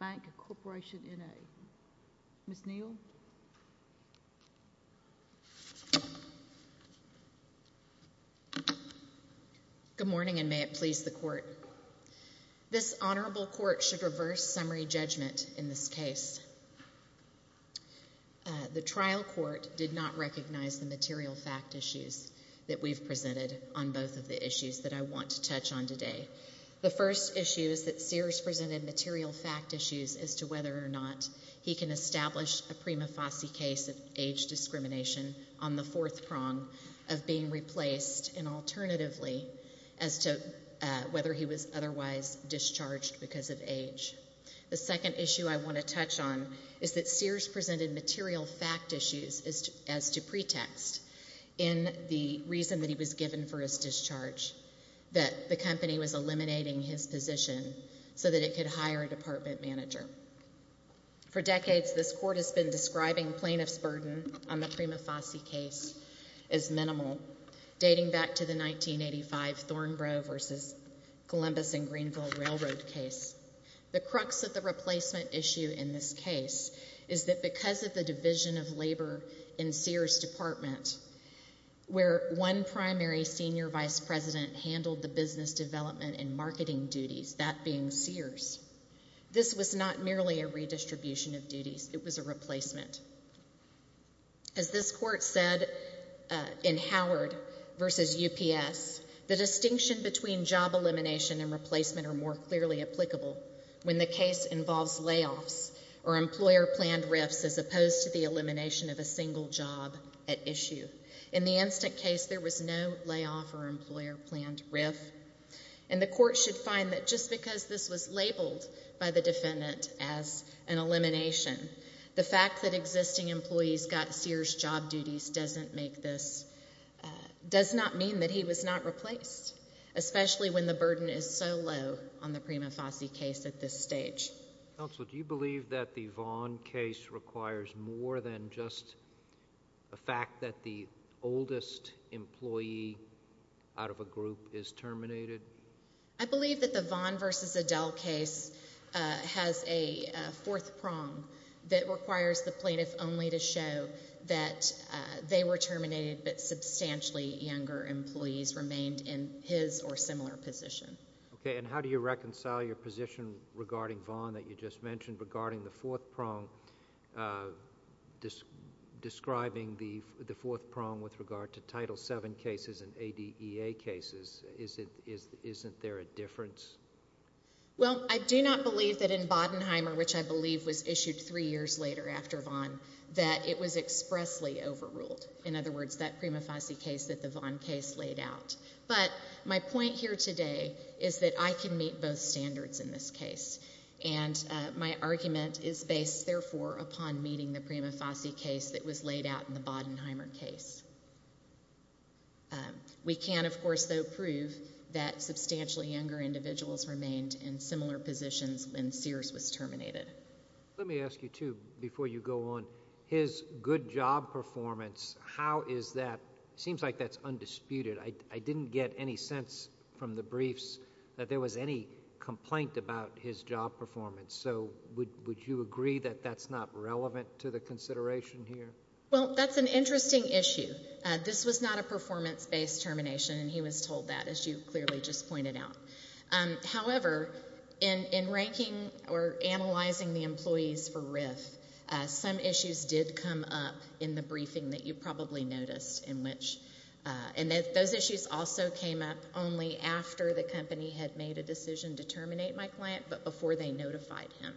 Bank Corporation, NA. Ms. Neal? Good morning, and may it please the Court. This Honorable Court should reverse summary judgment in this case. The trial court did not recognize the The first issue is that Sears presented material fact issues as to whether or not he can establish a prima facie case of age discrimination on the fourth prong of being replaced, and alternatively, as to whether he was otherwise discharged because of age. The second issue I want to touch on is that Sears presented material fact issues as to pretext in the reason that he was given for his discharge that the company was eliminating his position so that it could hire a department manager. For decades, this Court has been describing plaintiff's burden on the prima facie case as minimal, dating back to the 1985 Thornbrough v. Columbus and Greenville Railroad case. The crux of the replacement issue in this case is that because of the division of labor in Sears' department, where one primary senior vice president handled the business development and marketing duties, that being Sears, this was not merely a redistribution of duties. It was a replacement. As this Court said in Howard v. UPS, the distinction between job elimination and replacement are more clearly applicable when the case involves layoffs or employer-planned rifts as opposed to the elimination of a single job at issue. In the instant case, there was no layoff or employer-planned rift. And the Court should find that just because this was labeled by the defendant as an elimination, the fact that existing employees got Sears' job duties does not mean that he was not replaced, especially when the burden is so low on the prima facie case at this stage. Counsel, do you believe that the Vaughn case requires more than just the fact that the oldest employee out of a group is terminated? I believe that the Vaughn v. Adele case has a fourth prong that requires the plaintiff only to show that they were terminated but substantially younger employees remained in his or similar position. Okay, and how do you reconcile your position regarding Vaughn that you just mentioned regarding the fourth prong, describing the fourth prong with regard to Title VII cases and ADEA cases? Isn't there a difference? Well, I do not believe that in Bodenheimer, which I believe was issued three years later after Vaughn, that it was expressly overruled, in other words, that prima facie case that the Vaughn case laid out. But my point here today is that I can meet both standards in this case, and my argument is based, therefore, upon meeting the prima facie case that was laid out in the Bodenheimer case. We can, of course, though, prove that substantially younger individuals remained in similar positions when Sears was terminated. Let me ask you, too, before you go on, his good job performance, how is that – seems like that's undisputed. I didn't get any sense from the briefs that there was any complaint about his job performance. So would you agree that that's not relevant to the consideration here? Well, that's an interesting issue. This was not a performance-based termination, and he was told that, as you clearly just pointed out. However, in ranking or analyzing the employees for RIF, some issues did come up in the briefing that you probably noticed, and those issues also came up only after the company had made a decision to terminate my client but before they notified him.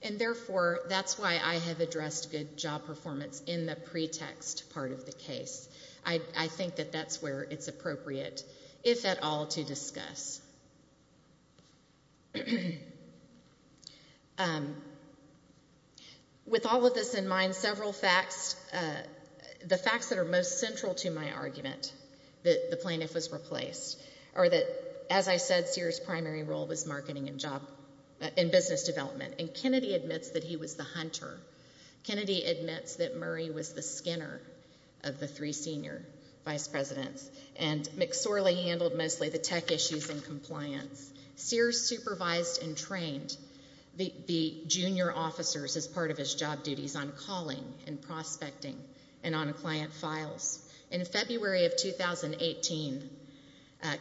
And, therefore, that's why I have addressed good job performance in the pretext part of the case. I think that that's where it's appropriate, if at all, to discuss. With all of this in mind, several facts – the facts that are most central to my argument, that the plaintiff was replaced, or that, as I said, Sears' primary role was marketing and job – and business development. And Kennedy admits that he was the hunter. Kennedy admits that Murray was the skinner of the three senior vice presidents. And McSorley handled mostly the tech issues and compliance. Sears supervised and trained the junior officers as part of his job duties on calling and prospecting and on client files. In February of 2018,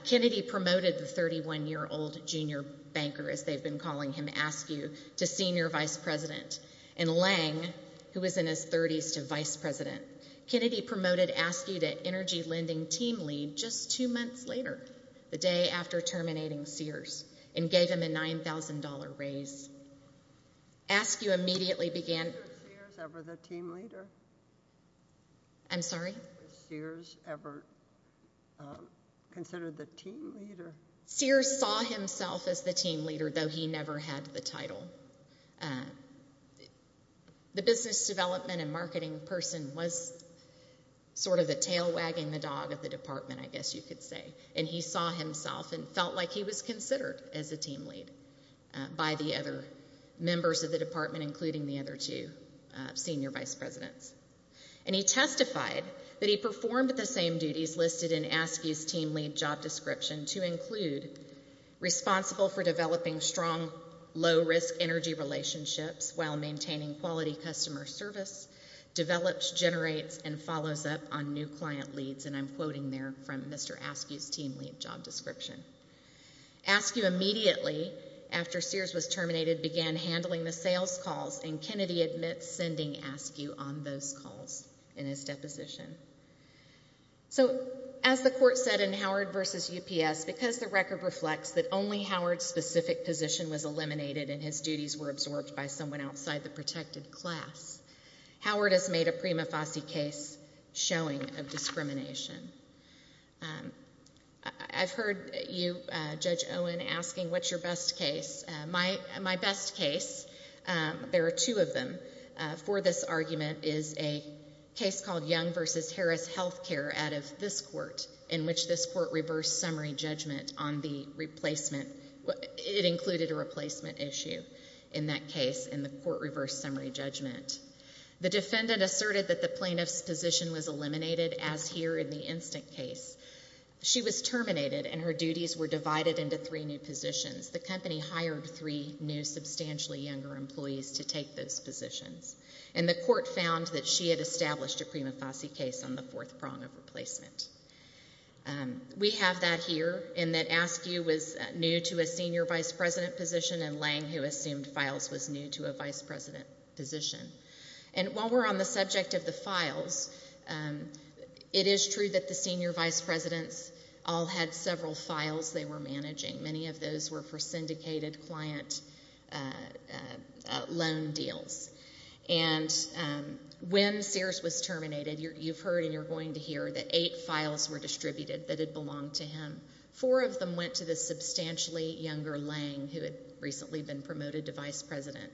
Kennedy promoted the 31-year-old junior banker, as they've been calling him, Askew, to senior vice president. And Lange, who was in his 30s, to vice president. Kennedy promoted Askew to energy lending team lead just two months later, the day after terminating Sears, and gave him a $9,000 raise. Askew immediately began – Did Sears ever consider the team leader? Sears saw himself as the team leader, though he never had the title. The business development and marketing person was sort of the tail wagging the dog of the department, I guess you could say. And he saw himself and felt like he was considered as a team lead by the other members of the department, including the other two senior vice presidents. And he testified that he performed the same duties listed in Askew's team lead job description to include responsible for developing strong, low-risk energy relationships while maintaining quality customer service, develops, generates, and follows up on new client leads. And I'm quoting there from Mr. Askew's team lead job description. Askew immediately, after Sears was terminated, began handling the sales calls, and Kennedy admits sending Askew on those calls in his deposition. So, as the court said in Howard v. UPS, because the record reflects that only Howard's specific position was eliminated and his duties were absorbed by someone outside the protected class, Howard has made a prima facie case showing of discrimination. I've heard you, Judge Owen, asking what's your best case. My best case, there are two of them, for this argument is a case called Young v. Harris Healthcare out of this court, in which this court reversed summary judgment on the replacement. It included a replacement issue in that case in the court reversed summary judgment. The defendant asserted that the plaintiff's position was eliminated, as here in the instant case. She was terminated and her duties were divided into three new positions. The company hired three new, substantially younger employees to take those positions. And the court found that she had established a prima facie case on the fourth prong of replacement. We have that here, in that Askew was new to a senior vice president position, and Lange, who assumed files, was new to a vice president position. And while we're on the subject of the files, it is true that the senior vice presidents all had several files they were managing. Many of those were for syndicated client loan deals. And when Sears was terminated, you've heard and you're going to hear that eight files were distributed that had belonged to him. Four of them went to the substantially younger Lange, who had recently been promoted to vice president.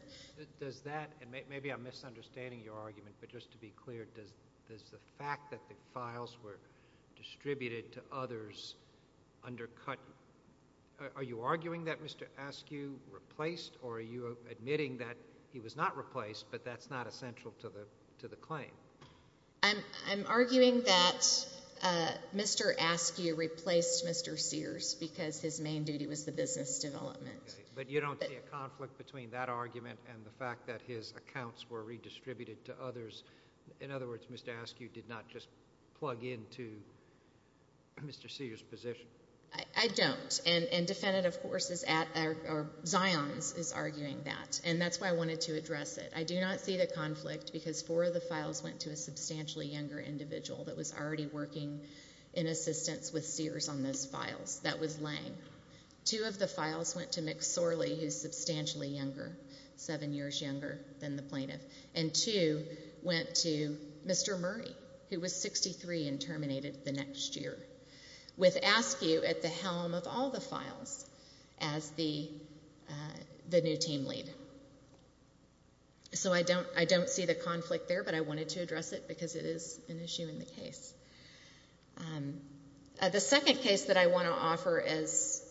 Does that – and maybe I'm misunderstanding your argument, but just to be clear, does the fact that the files were distributed to others undercut – are you arguing that Mr. Askew replaced, or are you admitting that he was not replaced, but that's not essential to the claim? I'm arguing that Mr. Askew replaced Mr. Sears because his main duty was the business development. But you don't see a conflict between that argument and the fact that his accounts were redistributed to others. In other words, Mr. Askew did not just plug into Mr. Sears' position. I don't, and defendant, of course, is – or Zions is arguing that, and that's why I wanted to address it. I do not see the conflict because four of the files went to a substantially younger individual that was already working in assistance with Sears on those files. That was Lange. Two of the files went to Mick Sorley, who's substantially younger, seven years younger than the plaintiff. And two went to Mr. Murray, who was 63 and terminated the next year. With Askew at the helm of all the files as the new team lead. So I don't see the conflict there, but I wanted to address it because it is an issue in the case. The second case that I want to offer as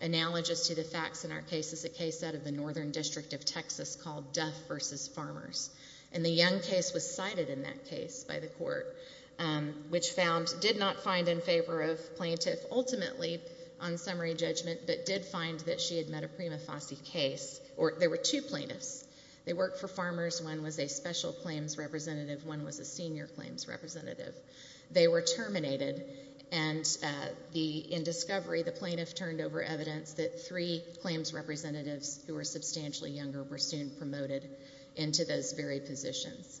analogous to the facts in our case is a case out of the Northern District of Texas called Duff v. Farmers. And the Young case was cited in that case by the court, which found – did not find in favor of plaintiff ultimately on summary judgment, but did find that she had met a prima facie case – or there were two plaintiffs. They worked for Farmers. One was a special claims representative. One was a senior claims representative. They were terminated, and the – in discovery, the plaintiff turned over evidence that three claims representatives who were substantially younger were soon promoted into those very positions.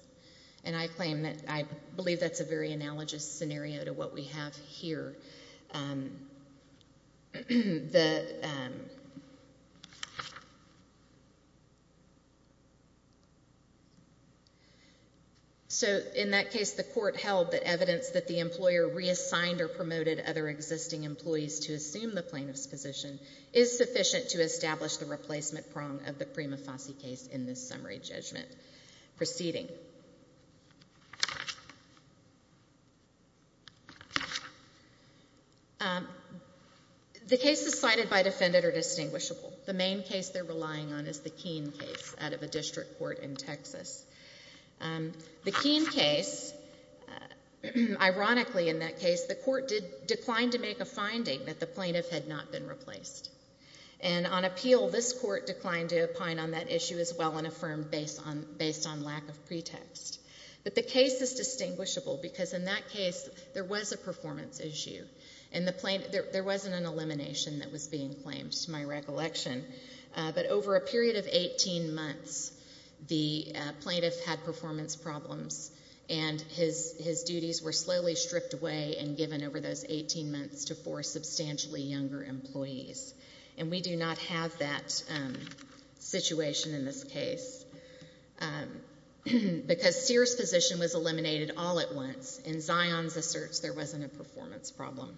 And I claim that – I believe that's a very analogous scenario to what we have here. So in that case, the court held that evidence that the employer reassigned or promoted other existing employees to assume the plaintiff's position is sufficient to establish the replacement prong of the prima facie case in this summary judgment. Proceeding. The cases cited by defendant are distinguishable. The main case they're relying on is the Keene case out of a district court in Texas. The Keene case, ironically in that case, the court declined to make a finding that the plaintiff had not been replaced. And on appeal, this court declined to opine on that issue as well and affirmed based on lack of pretext. But the case is distinguishable because in that case, there was a performance issue. And the plaintiff – there wasn't an elimination that was being claimed to my recollection. But over a period of 18 months, the plaintiff had performance problems and his duties were slowly stripped away and given over those 18 months to four substantially younger employees. And we do not have that situation in this case because Sears' position was eliminated all at once and Zion's asserts there wasn't a performance problem.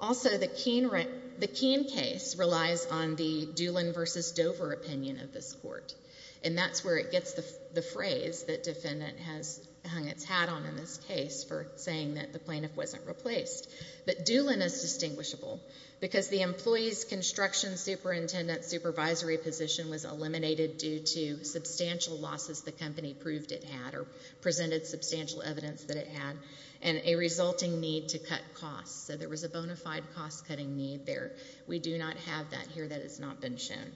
Also, the Keene case relies on the Doolin versus Dover opinion of this court. And that's where it gets the phrase that defendant has hung its hat on in this case for saying that the plaintiff wasn't replaced. But Doolin is distinguishable because the employee's construction superintendent supervisory position was eliminated due to substantial losses the company proved it had or presented substantial evidence that it had and a resulting need to cut costs. So there was a bona fide cost-cutting need there. We do not have that here. That has not been shown.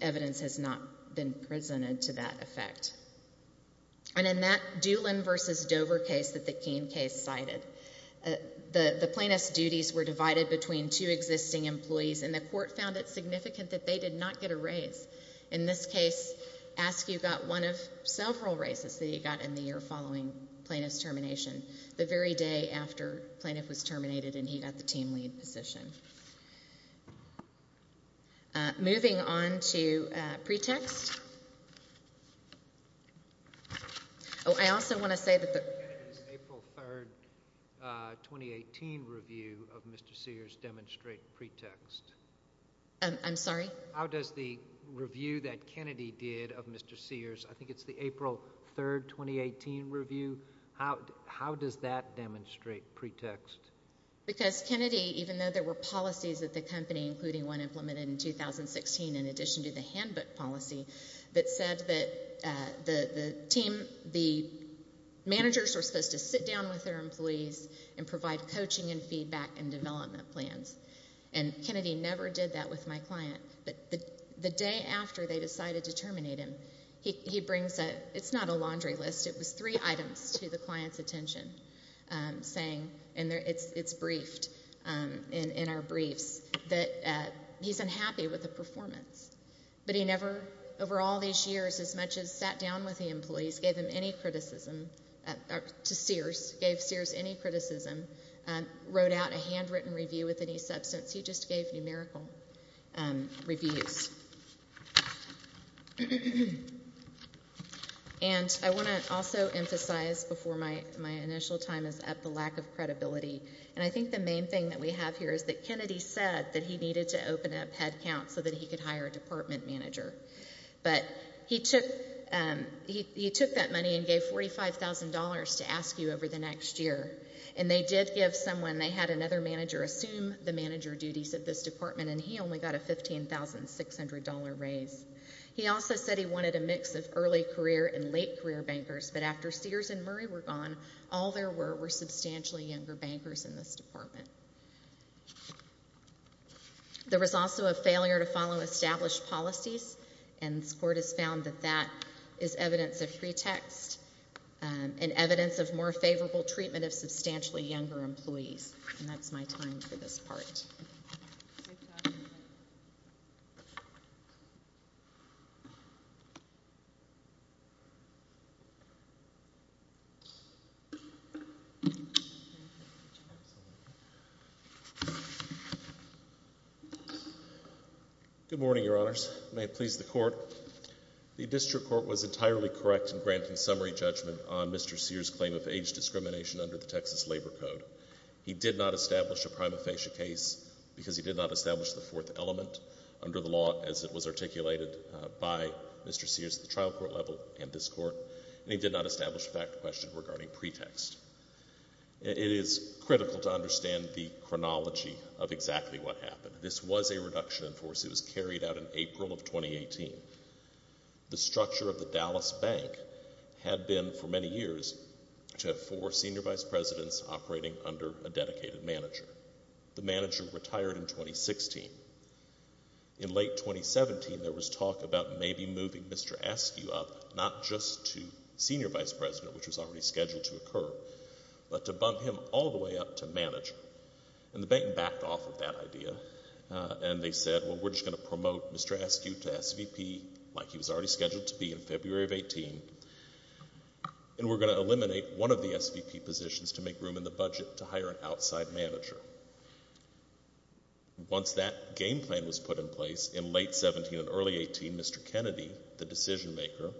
Evidence has not been presented to that effect. And in that Doolin versus Dover case that the Keene case cited, the plaintiff's duties were divided between two existing employees and the court found it significant that they did not get a raise. In this case, Askew got one of several raises that he got in the year following the plaintiff's termination, the very day after the plaintiff was terminated and he got the team lead position. Moving on to pretext. Oh, I also want to say that the- The April 3, 2018, review of Mr. Sears demonstrates pretext. I'm sorry? How does the review that Kennedy did of Mr. Sears, I think it's the April 3, 2018, review, how does that demonstrate pretext? Because Kennedy, even though there were policies at the company, including one implemented in 2016 in addition to the handbook policy, that said that the team, the managers were supposed to sit down with their employees and provide coaching and feedback and development plans. And Kennedy never did that with my client. But the day after they decided to terminate him, he brings a, it's not a laundry list, it was three items to the client's attention saying, and it's briefed in our briefs, that he's unhappy with the performance. But he never, over all these years, as much as sat down with the employees, gave them any criticism, to Sears, gave Sears any criticism, wrote out a handwritten review with any substance. He just gave numerical reviews. And I want to also emphasize before my initial time is up the lack of credibility. And I think the main thing that we have here is that Kennedy said that he needed to open up headcount so that he could hire a department manager. But he took that money and gave $45,000 to ask you over the next year. And they did give someone, they had another manager assume the manager duties of this department, and he only got a $15,600 raise. He also said he wanted a mix of early career and late career bankers. But after Sears and Murray were gone, all there were were substantially younger bankers in this department. There was also a failure to follow established policies, and this court has found that that is evidence of pretext and evidence of more favorable treatment of substantially younger employees. And that's my time for this part. Good morning, Your Honors. May it please the Court. The district court was entirely correct in granting summary judgment on Mr. Sears' claim of age discrimination under the Texas Labor Code. He did not establish a prima facie case because he did not establish the fourth element under the law as it was articulated by Mr. Sears at the trial court level and this court. And he did not establish a fact question regarding pretext. It is critical to understand the chronology of exactly what happened. This was a reduction in force. It was carried out in April of 2018. The structure of the Dallas Bank had been for many years to have four senior vice presidents operating under a dedicated manager. The manager retired in 2016. In late 2017, there was talk about maybe moving Mr. Askew up, not just to senior vice president, which was already scheduled to occur, but to bump him all the way up to manager. And the bank backed off of that idea, and they said, well, we're just going to promote Mr. Askew to SVP like he was already scheduled to be in February of 18, and we're going to eliminate one of the SVP positions to make room in the budget to hire an outside manager. Once that game plan was put in place, in late 17 and early 18, Mr. Kennedy, the decision maker,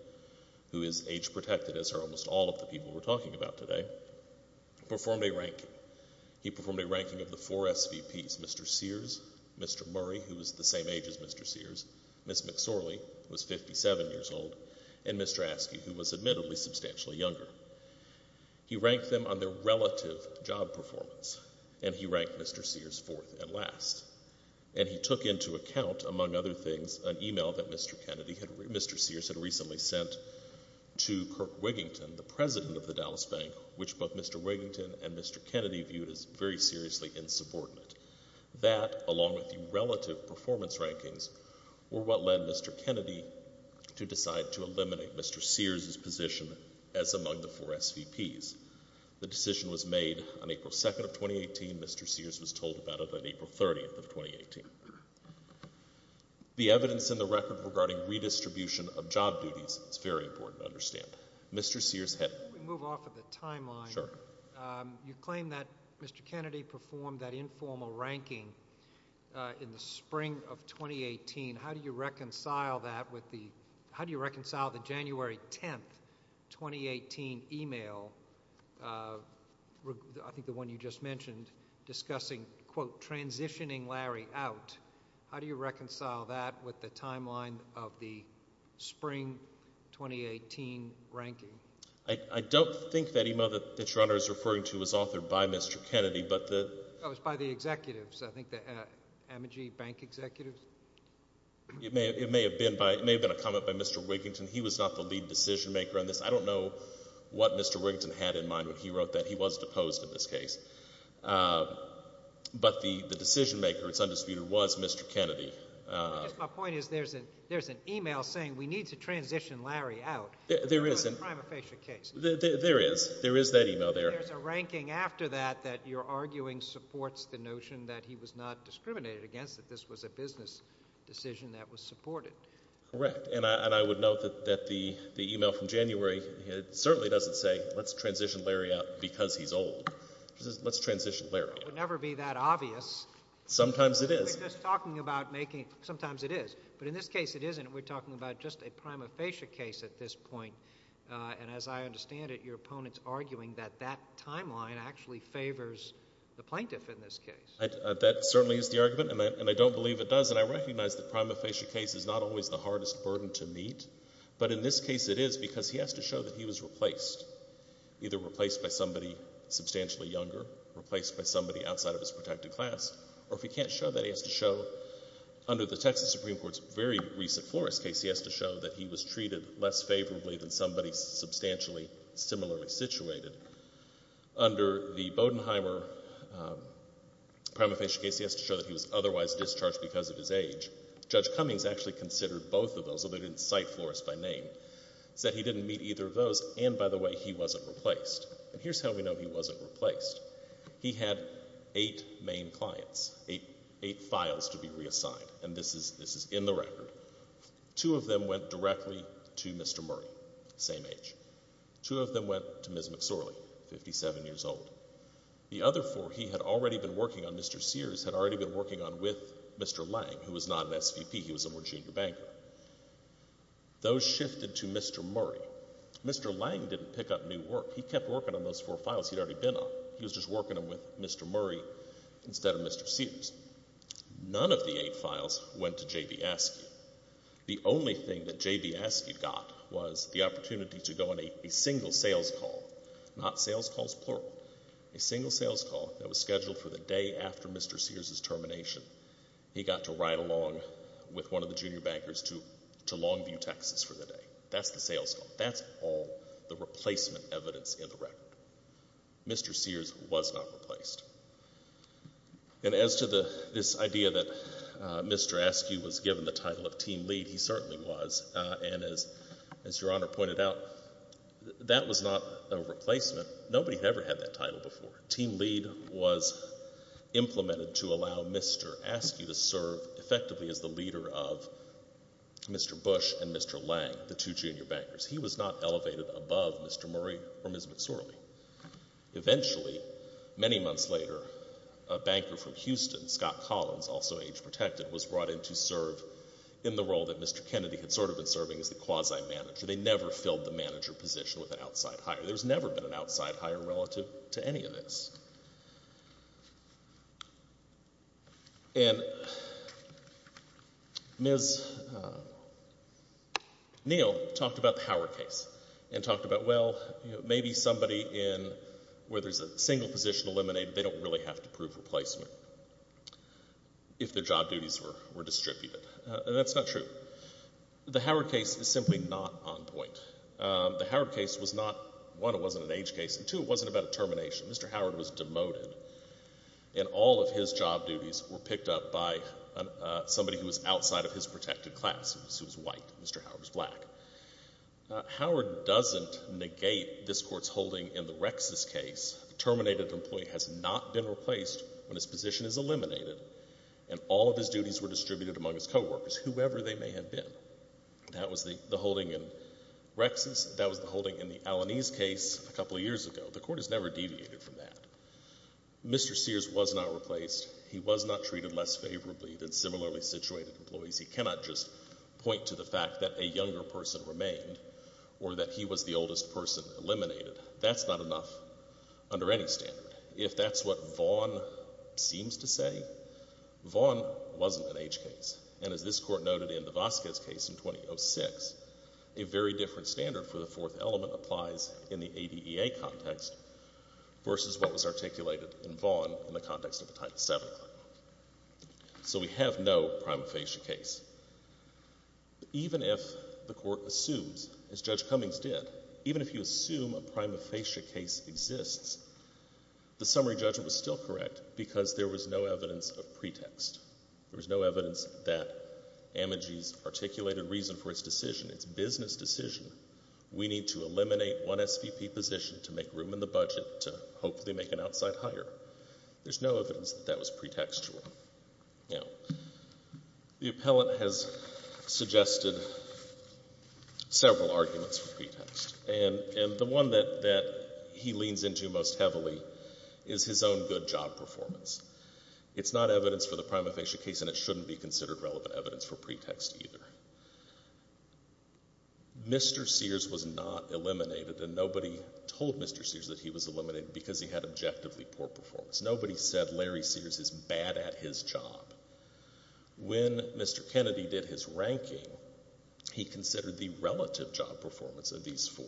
who is age protected, as are almost all of the people we're talking about today, performed a ranking. He performed a ranking of the four SVPs, Mr. Sears, Mr. Murray, who was the same age as Mr. Sears, Ms. McSorley, who was 57 years old, and Mr. Askew, who was admittedly substantially younger. He ranked them on their relative job performance, and he ranked Mr. Sears fourth and last. And he took into account, among other things, an email that Mr. Sears had recently sent to Kirk Wigington, the president of the Dallas Bank, which both Mr. Wigington and Mr. Kennedy viewed as very seriously insubordinate. That, along with the relative performance rankings, were what led Mr. Kennedy to decide to eliminate Mr. Sears' position as among the four SVPs. The decision was made on April 2 of 2018. Mr. Sears was told about it on April 30 of 2018. The evidence in the record regarding redistribution of job duties is very important to understand. Mr. Sears had... Let me move off of the timeline. Sure. You claim that Mr. Kennedy performed that informal ranking in the spring of 2018. How do you reconcile that with the... How do you reconcile the January 10, 2018, email, I think the one you just mentioned, discussing, quote, transitioning Larry out? How do you reconcile that with the timeline of the spring 2018 ranking? I don't think that email that Your Honour is referring to was authored by Mr. Kennedy, but the... Oh, it was by the executives, I think, the Amogee Bank executives? It may have been a comment by Mr. Wigington. He was not the lead decision-maker on this. I don't know what Mr. Wigington had in mind when he wrote that. He was deposed in this case. But the decision-maker, it's undisputed, was Mr. Kennedy. My point is there's an email saying we need to transition Larry out. There is. It was a prima facie case. There is. There is that email there. There's a ranking after that that you're arguing supports the notion that he was not discriminated against, that this was a business decision that was supported. Correct, and I would note that the email from January certainly doesn't say let's transition Larry out because he's old. It says let's transition Larry out. It would never be that obvious. Sometimes it is. Sometimes it is, but in this case it isn't. We're talking about just a prima facie case at this point, and as I understand it, your opponent's arguing that that timeline actually favors the plaintiff in this case. That certainly is the argument, and I don't believe it does, and I recognize the prima facie case is not always the hardest burden to meet, but in this case it is because he has to show that he was replaced, either replaced by somebody substantially younger, replaced by somebody outside of his protected class, or if he can't show that, he has to show, under the Texas Supreme Court's very recent Flores case, he has to show that he was treated less favorably than somebody substantially similarly situated. Under the Bodenheimer prima facie case, he has to show that he was otherwise discharged because of his age. Judge Cummings actually considered both of those, although he didn't cite Flores by name, said he didn't meet either of those, and by the way, he wasn't replaced. And here's how we know he wasn't replaced. He had eight main clients, eight files to be reassigned, and this is in the record. Two of them went directly to Mr. Murray, same age. Two of them went to Ms. McSorley, 57 years old. The other four he had already been working on, Mr. Sears had already been working on with Mr. Lang, who was not an SVP, he was a more junior banker. Those shifted to Mr. Murray. Mr. Lang didn't pick up new work. He kept working on those four files he'd already been on. He was just working them with Mr. Murray instead of Mr. Sears. None of the eight files went to J.B. Askey. The only thing that J.B. Askey got was the opportunity to go on a single sales call, not sales calls plural, a single sales call that was scheduled for the day after Mr. Sears' termination. He got to ride along with one of the junior bankers to Longview, Texas for the day. That's the sales call. That's all the replacement evidence in the record. Mr. Sears was not replaced. And as to this idea that Mr. Askey was given the title of team lead, he certainly was, and as Your Honor pointed out, that was not a replacement. Nobody had ever had that title before. Team lead was implemented to allow Mr. Askey to serve effectively as the leader of Mr. Bush and Mr. Lang, the two junior bankers. He was not elevated above Mr. Murray or Ms. McSorley. Eventually, many months later, a banker from Houston, Scott Collins, also age-protected, was brought in to serve in the role that Mr. Kennedy had sort of been serving as the quasi-manager. They never filled the manager position with an outside hire. There's never been an outside hire relative to any of this. And Ms. Neal talked about the Howard case and talked about, well, maybe somebody in where there's a single position eliminated, they don't really have to prove replacement if their job duties were distributed. And that's not true. The Howard case is simply not on point. The Howard case was not, one, it wasn't an age case, and two, it wasn't about a termination. Mr. Howard was demoted, and all of his job duties were picked up by somebody who was outside of his protected class, who was white. Mr. Howard was black. Howard doesn't negate this Court's holding in the Rexis case. A terminated employee has not been replaced when his position is eliminated, and all of his duties were distributed among his coworkers, whoever they may have been. That was the holding in Rexis. That was the holding in the Alanis case a couple of years ago. The Court has never deviated from that. Mr. Sears was not replaced. He was not treated less favorably than similarly situated employees. He cannot just point to the fact that a younger person remained or that he was the oldest person eliminated. That's not enough under any standard. If that's what Vaughan seems to say, Vaughan wasn't an age case. And as this Court noted in the Vasquez case in 2006, a very different standard for the fourth element applies in the ADEA context versus what was articulated in Vaughan in the context of the Title VII claim. So we have no prima facie case. Even if the Court assumes, as Judge Cummings did, even if you assume a prima facie case exists, the summary judgment was still correct because there was no evidence of pretext. There was no evidence that Amagi's articulated reason for his decision, his business decision, we need to eliminate one SVP position to make room in the budget to hopefully make an outside hire. There's no evidence that that was pretextual. Now, the appellant has suggested several arguments for pretext. And the one that he leans into most heavily is his own good job performance. It's not evidence for the prima facie case and it shouldn't be considered relevant evidence for pretext either. Mr. Sears was not eliminated, and nobody told Mr. Sears that he was eliminated because he had objectively poor performance. Nobody said Larry Sears is bad at his job. When Mr. Kennedy did his ranking, he considered the relative job performance of these four.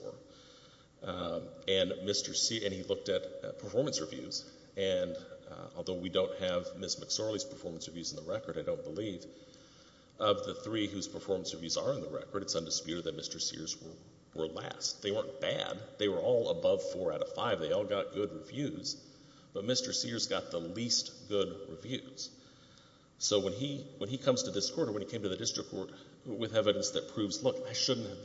And he looked at performance reviews, and although we don't have Ms. McSorley's performance reviews in the record, I don't believe, of the three whose performance reviews are in the record, it's undisputed that Mr. Sears were last. They weren't bad. They were all above four out of five. They all got good reviews. But Mr. Sears got the least good reviews. So when he comes to this court or when he came to the district court with evidence that proves, look, I shouldn't have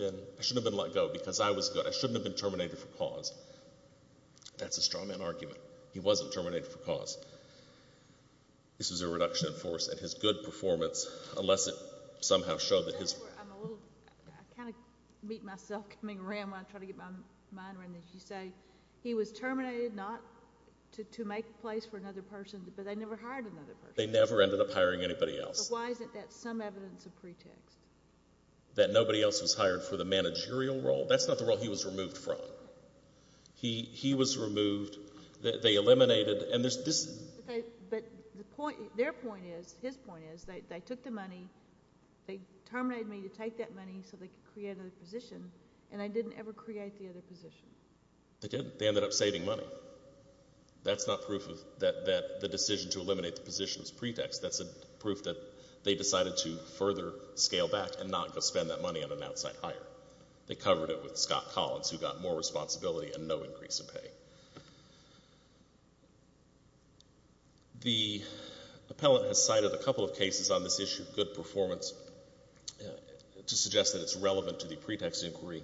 been let go because I was good. I shouldn't have been terminated for cause. That's a strongman argument. He wasn't terminated for cause. This is a reduction in force, and his good performance, unless it somehow showed that his... I kind of meet myself coming around when I try to get my mind around this. You say he was terminated not to make a place for another person, but they never hired another person. They never ended up hiring anybody else. But why isn't that some evidence of pretext? That nobody else was hired for the managerial role? That's not the role he was removed from. He was removed. They eliminated... But their point is, his point is, they took the money, they terminated me to take that money so they could create another position, and I didn't ever create the other position. They didn't. They ended up saving money. That's not proof that the decision to eliminate the position was pretext. That's proof that they decided to further scale back and not go spend that money on an outside hire. They covered it with Scott Collins, who got more responsibility and no increase in pay. The appellant has cited a couple of cases on this issue, good performance, to suggest that it's relevant to the pretext inquiry.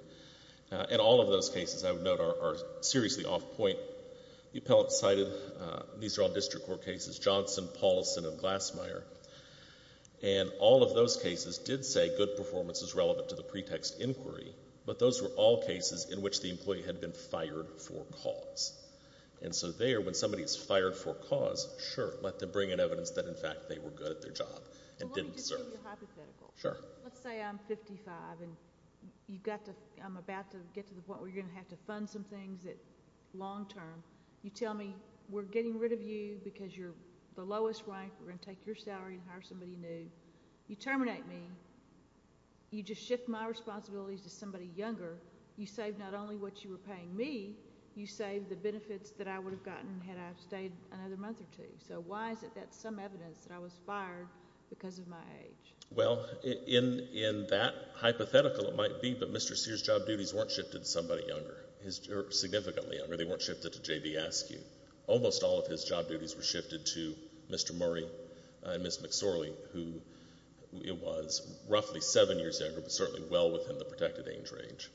And all of those cases, I would note, are seriously off point. The appellant cited... These are all district court cases, Johnson, Paulson, and Glassmeyer. And all of those cases did say good performance is relevant to the pretext inquiry, but those were all cases in which the employee had been fired for cause. And so there, when somebody's fired for cause, sure, let them bring in evidence that, in fact, they were good at their job and didn't deserve it. Well, let me just give you a hypothetical. Sure. Let's say I'm 55, and I'm about to get to the point where you're going to have to fund some things long term. You tell me, we're getting rid of you because you're the lowest rank, we're going to take your salary and hire somebody new. You terminate me. You just shift my responsibilities to somebody younger. You saved not only what you were paying me, you saved the benefits that I would have gotten had I stayed another month or two. So why is it that some evidence that I was fired because of my age? Well, in that hypothetical, it might be that Mr. Sears' job duties weren't shifted to somebody younger, significantly younger. They weren't shifted to J.B. Askew. Almost all of his job duties were shifted to Mr. Murray and Ms. McSorley, who was roughly seven years younger, but certainly well within the protected age range.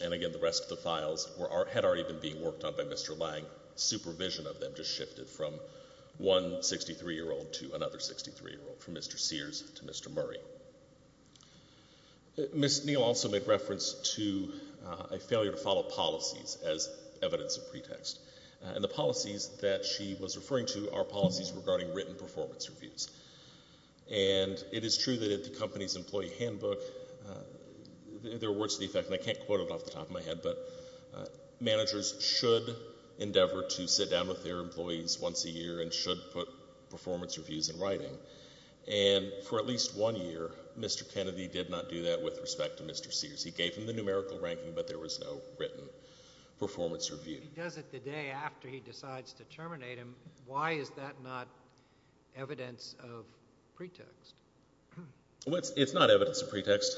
And again, the rest of the files had already been being worked on by Mr. Lang. Supervision of them just shifted from one 63-year-old to another 63-year-old, from Mr. Sears to Mr. Murray. Ms. Neal also made reference to a failure to follow policies as evidence of pretext. And the policies that she was referring to are policies regarding written performance reviews. And it is true that at the company's employee handbook, there were words to the effect, and I can't quote it off the top of my head, but managers should endeavor to sit down with their employees once a year and should put performance reviews in writing. And for at least one year, Mr. Kennedy did not do that with respect to Mr. Sears. He gave him the numerical ranking, but there was no written performance review. He does it the day after he decides to terminate him. Why is that not evidence of pretext? It's not evidence of pretext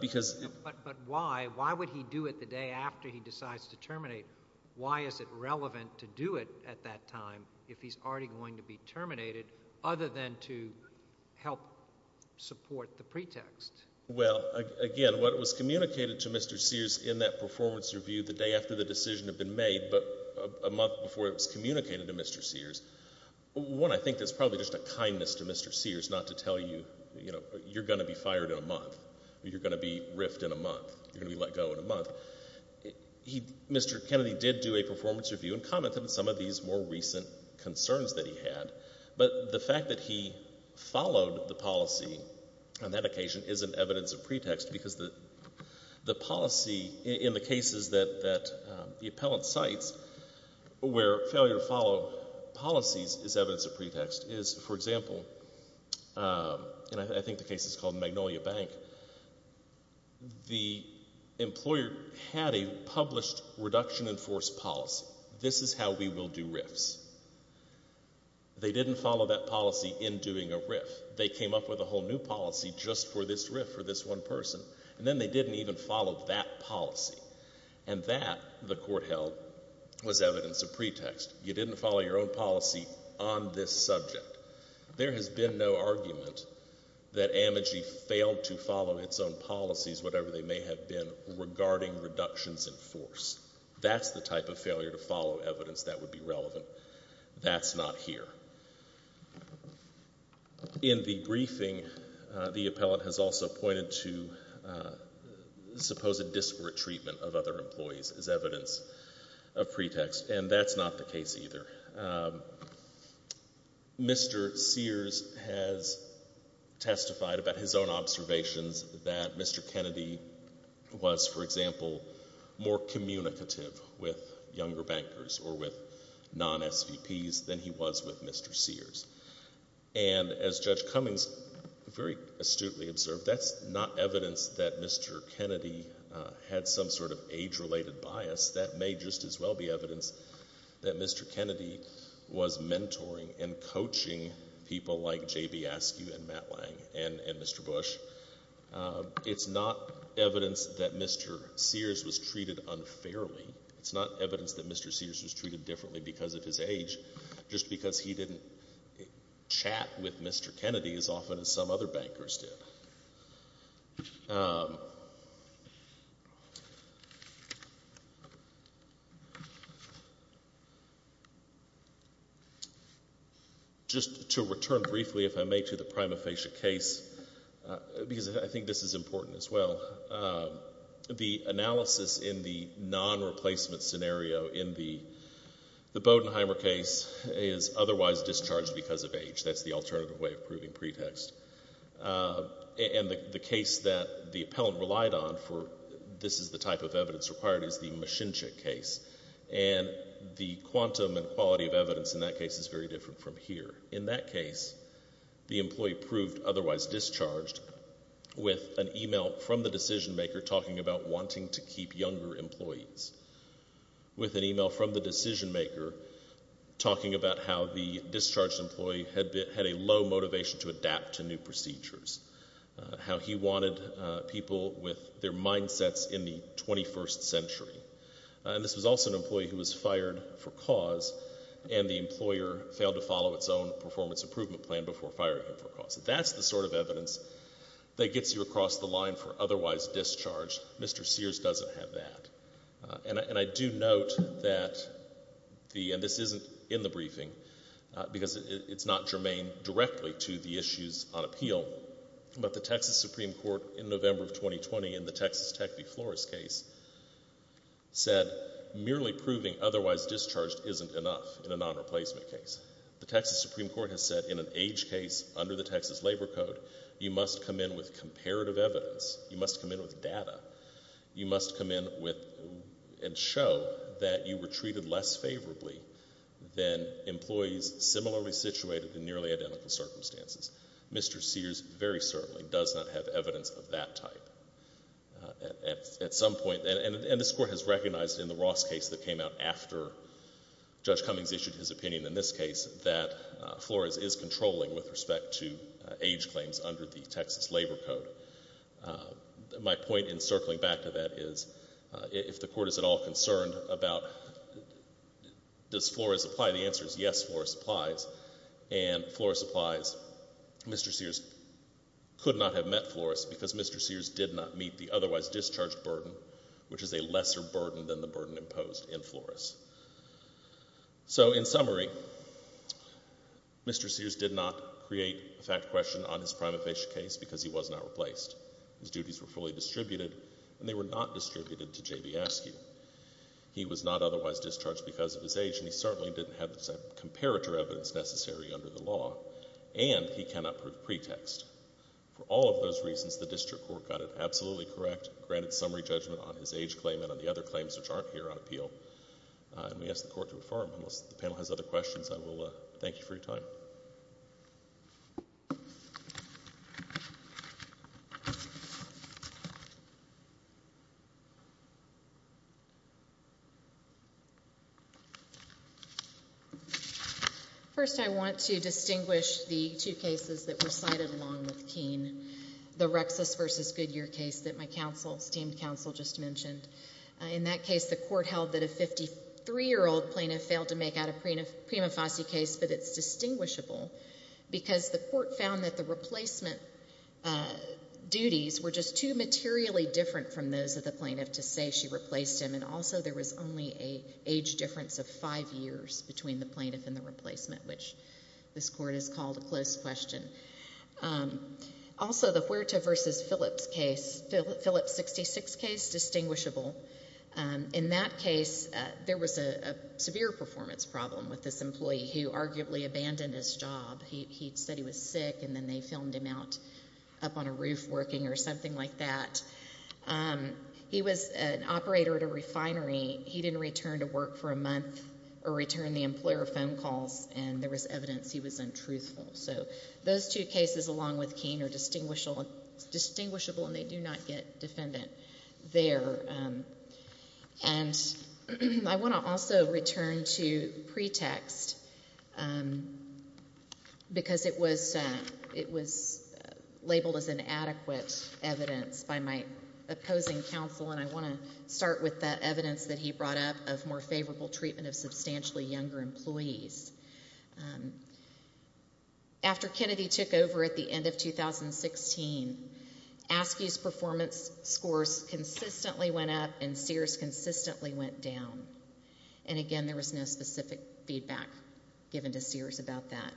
because... But why? Why would he do it the day after he decides to terminate? Why is it relevant to do it at that time if he's already going to be terminated other than to help support the pretext? Well, again, what was communicated to Mr. Sears in that performance review the day after the decision had been made but a month before it was communicated to Mr. Sears, one, I think there's probably just a kindness to Mr. Sears not to tell you, you know, you're going to be fired in a month or you're going to be riffed in a month, you're going to be let go in a month. Mr. Kennedy did do a performance review and commented on some of these more recent concerns that he had, but the fact that he followed the policy on that occasion isn't evidence of pretext because the policy in the cases that the appellant cites where failure to follow policies is evidence of pretext is, for example, and I think the case is called Magnolia Bank, the employer had a published reduction in force policy. This is how we will do riffs. They didn't follow that policy in doing a riff. They came up with a whole new policy just for this riff, for this one person, and then they didn't even follow that policy, and that, the court held, was evidence of pretext. You didn't follow your own policy on this subject. There has been no argument that Amagi failed to follow its own policies, whatever they may have been, regarding reductions in force. That's the type of failure to follow evidence that would be relevant. That's not here. In the briefing, the appellant has also pointed to supposed disparate treatment of other employees as evidence of pretext, and that's not the case either. Mr. Sears has testified about his own observations that Mr. Kennedy was, for example, more communicative with younger bankers or with non-SVPs than he was with Mr. Sears. And as Judge Cummings very astutely observed, that's not evidence that Mr. Kennedy had some sort of age-related bias. That may just as well be evidence that Mr. Kennedy was mentoring and coaching people like J.B. Askew and Matt Lang and Mr. Bush. It's not evidence that Mr. Sears was treated unfairly. It's not evidence that Mr. Sears was treated differently because of his age, just because he didn't chat with Mr. Kennedy as often as some other bankers did. Just to return briefly, if I may, to the prima facie case, because I think this is important as well, the analysis in the non-replacement scenario in the Bodenheimer case is otherwise discharged because of age. That's the alternative way of proving pretext. And the case that the appellant relied on for this is the type of evidence required is the Machinchik case. And the quantum and quality of evidence in that case is very different from here. In that case, the employee proved otherwise discharged with an email from the decision maker talking about wanting to keep younger employees, with an email from the decision maker talking about how the discharged employee had a low motivation to adapt to new procedures, how he wanted people with their mindsets in the 21st century. And this was also an employee who was fired for cause and the employer failed to follow its own performance improvement plan before firing him for cause. That's the sort of evidence that gets you across the line for otherwise discharged. Mr. Sears doesn't have that. And I do note that the... And this isn't in the briefing because it's not germane directly to the issues on appeal, but the Texas Supreme Court in November of 2020 in the Texas Tech v. Flores case said merely proving otherwise discharged isn't enough in a non-replacement case. The Texas Supreme Court has said in an age case under the Texas Labor Code, you must come in with comparative evidence. You must come in with data. You must come in with... and show that you were treated less favorably than employees similarly situated in nearly identical circumstances. Mr. Sears very certainly does not have evidence of that type. At some point... And this Court has recognized in the Ross case that came out after Judge Cummings issued his opinion in this case that Flores is controlling with respect to age claims under the Texas Labor Code. My point in circling back to that is if the Court is at all concerned about... Does Flores apply? The answer is yes, Flores applies. And Flores applies. Mr. Sears could not have met Flores because Mr. Sears did not meet the otherwise discharged burden, which is a lesser burden than the burden imposed in Flores. So in summary, Mr. Sears did not create a fact question on his prima facie case because he was not replaced. His duties were fully distributed, and they were not distributed to J.B. Askew. He was not otherwise discharged because of his age, and he certainly didn't have the comparative evidence necessary under the law, and he cannot prove pretext. For all of those reasons, the District Court got it absolutely correct, granted summary judgment on his age claim and on the other claims which aren't here on appeal, and we ask the Court to affirm. Unless the panel has other questions, I will thank you for your time. First, I want to distinguish the two cases that were cited along with Keene, the Rexis v. Goodyear case that my counsel, esteemed counsel, just mentioned. In that case, the Court held that a 53-year-old plaintiff failed to make out a prima facie case, but it's distinguishable because the Court found that the replacement duties were just too materially different from those of the plaintiff to say she replaced him, and also there was only an age difference of five years between the plaintiff and the replacement, which this Court has called a close question. Also, the Huerta v. Phillips case, it is distinguishable. In that case, there was a severe performance problem with this employee who arguably abandoned his job. He said he was sick, and then they filmed him out up on a roof working or something like that. He was an operator at a refinery. He didn't return to work for a month or return the employer phone calls, and there was evidence he was untruthful. So those two cases along with Keene are distinguishable, and they do not get defendant there. And I want to also return to pretext because it was labeled as inadequate evidence by my opposing counsel, and I want to start with the evidence that he brought up of more favorable treatment of substantially younger employees. After Kennedy took over at the end of 2016, Askew's performance scores consistently went up and Sears consistently went down. And again, there was no specific feedback given to Sears about that.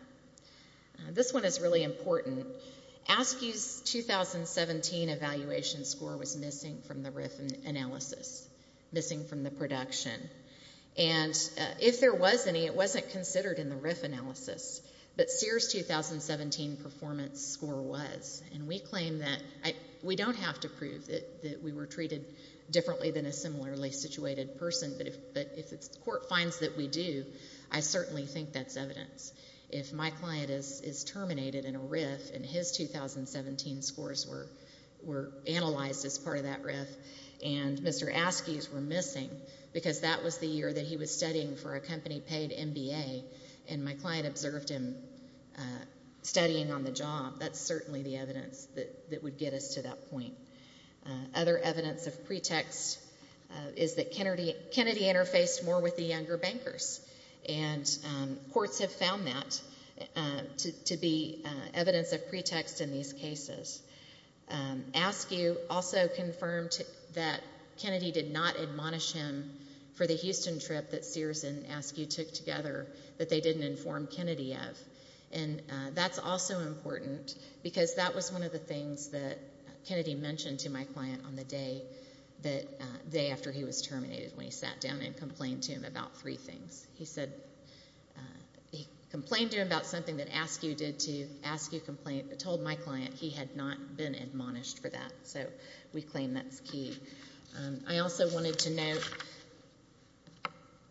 This one is really important. Askew's 2017 evaluation score was missing from the RIF analysis, missing from the production. And if there was any, it wasn't considered in the RIF analysis, but Sears' 2017 performance score was, and we claim that... We don't have to prove that we were treated differently than a similarly situated person, but if the court finds that we do, I certainly think that's evidence. If my client is terminated in a RIF and his 2017 scores were analyzed as part of that RIF and Mr. Askew's were missing because that was the year that he was studying for a company-paid MBA and my client observed him studying on the job, that's certainly the evidence that would get us to that point. Other evidence of pretext is that Kennedy interfaced more with the younger bankers, and courts have found that to be evidence of pretext in these cases. Askew also confirmed that Kennedy did not admonish him for the Houston trip that Sears and Askew took together that they didn't inform Kennedy of, and that's also important because that was one of the things that Kennedy mentioned to my client on the day after he was terminated when he sat down and complained to him about three things. He complained to him about something that Askew did to Askew Complaint but told my client he had not been admonished for that, so we claim that's key. I also wanted to note,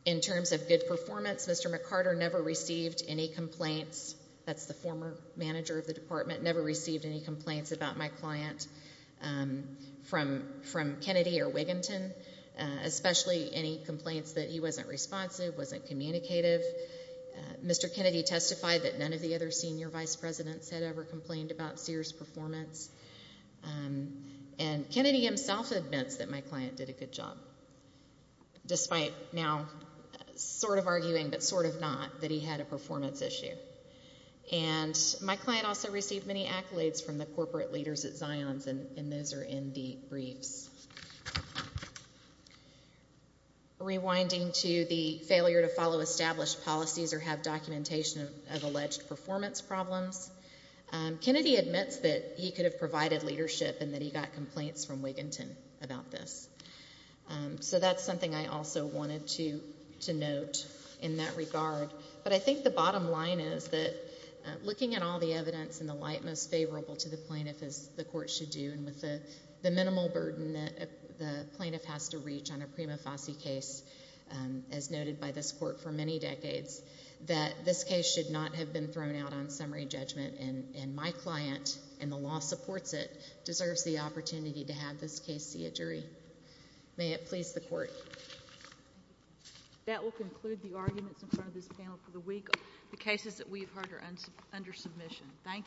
in terms of good performance, Mr. McCarter never received any complaints, that's the former manager of the department, never received any complaints about my client from Kennedy or Wigginton, especially any complaints that he wasn't responsive, wasn't communicative. Mr. Kennedy testified that none of the other senior vice presidents had ever complained about Sears' performance, and Kennedy himself admits that my client did a good job, despite now sort of arguing but sort of not, that he had a performance issue. And my client also received many accolades from the corporate leaders at Zions, and those are in the briefs. Rewinding to the failure to follow established policies or have documentation of alleged performance problems, Kennedy admits that he could have provided leadership and that he got complaints from Wigginton about this. So that's something I also wanted to note in that regard. But I think the bottom line is that looking at all the evidence in the light most favorable to the plaintiff, as the court should do, and with the minimal burden that the plaintiff has to reach on a prima facie case, as noted by this court for many decades, that this case should not have been thrown out on summary judgment and my client, and the law supports it, and may it please the court. That will conclude the arguments in front of this panel for the week. The cases that we've heard are under submission. Thank you.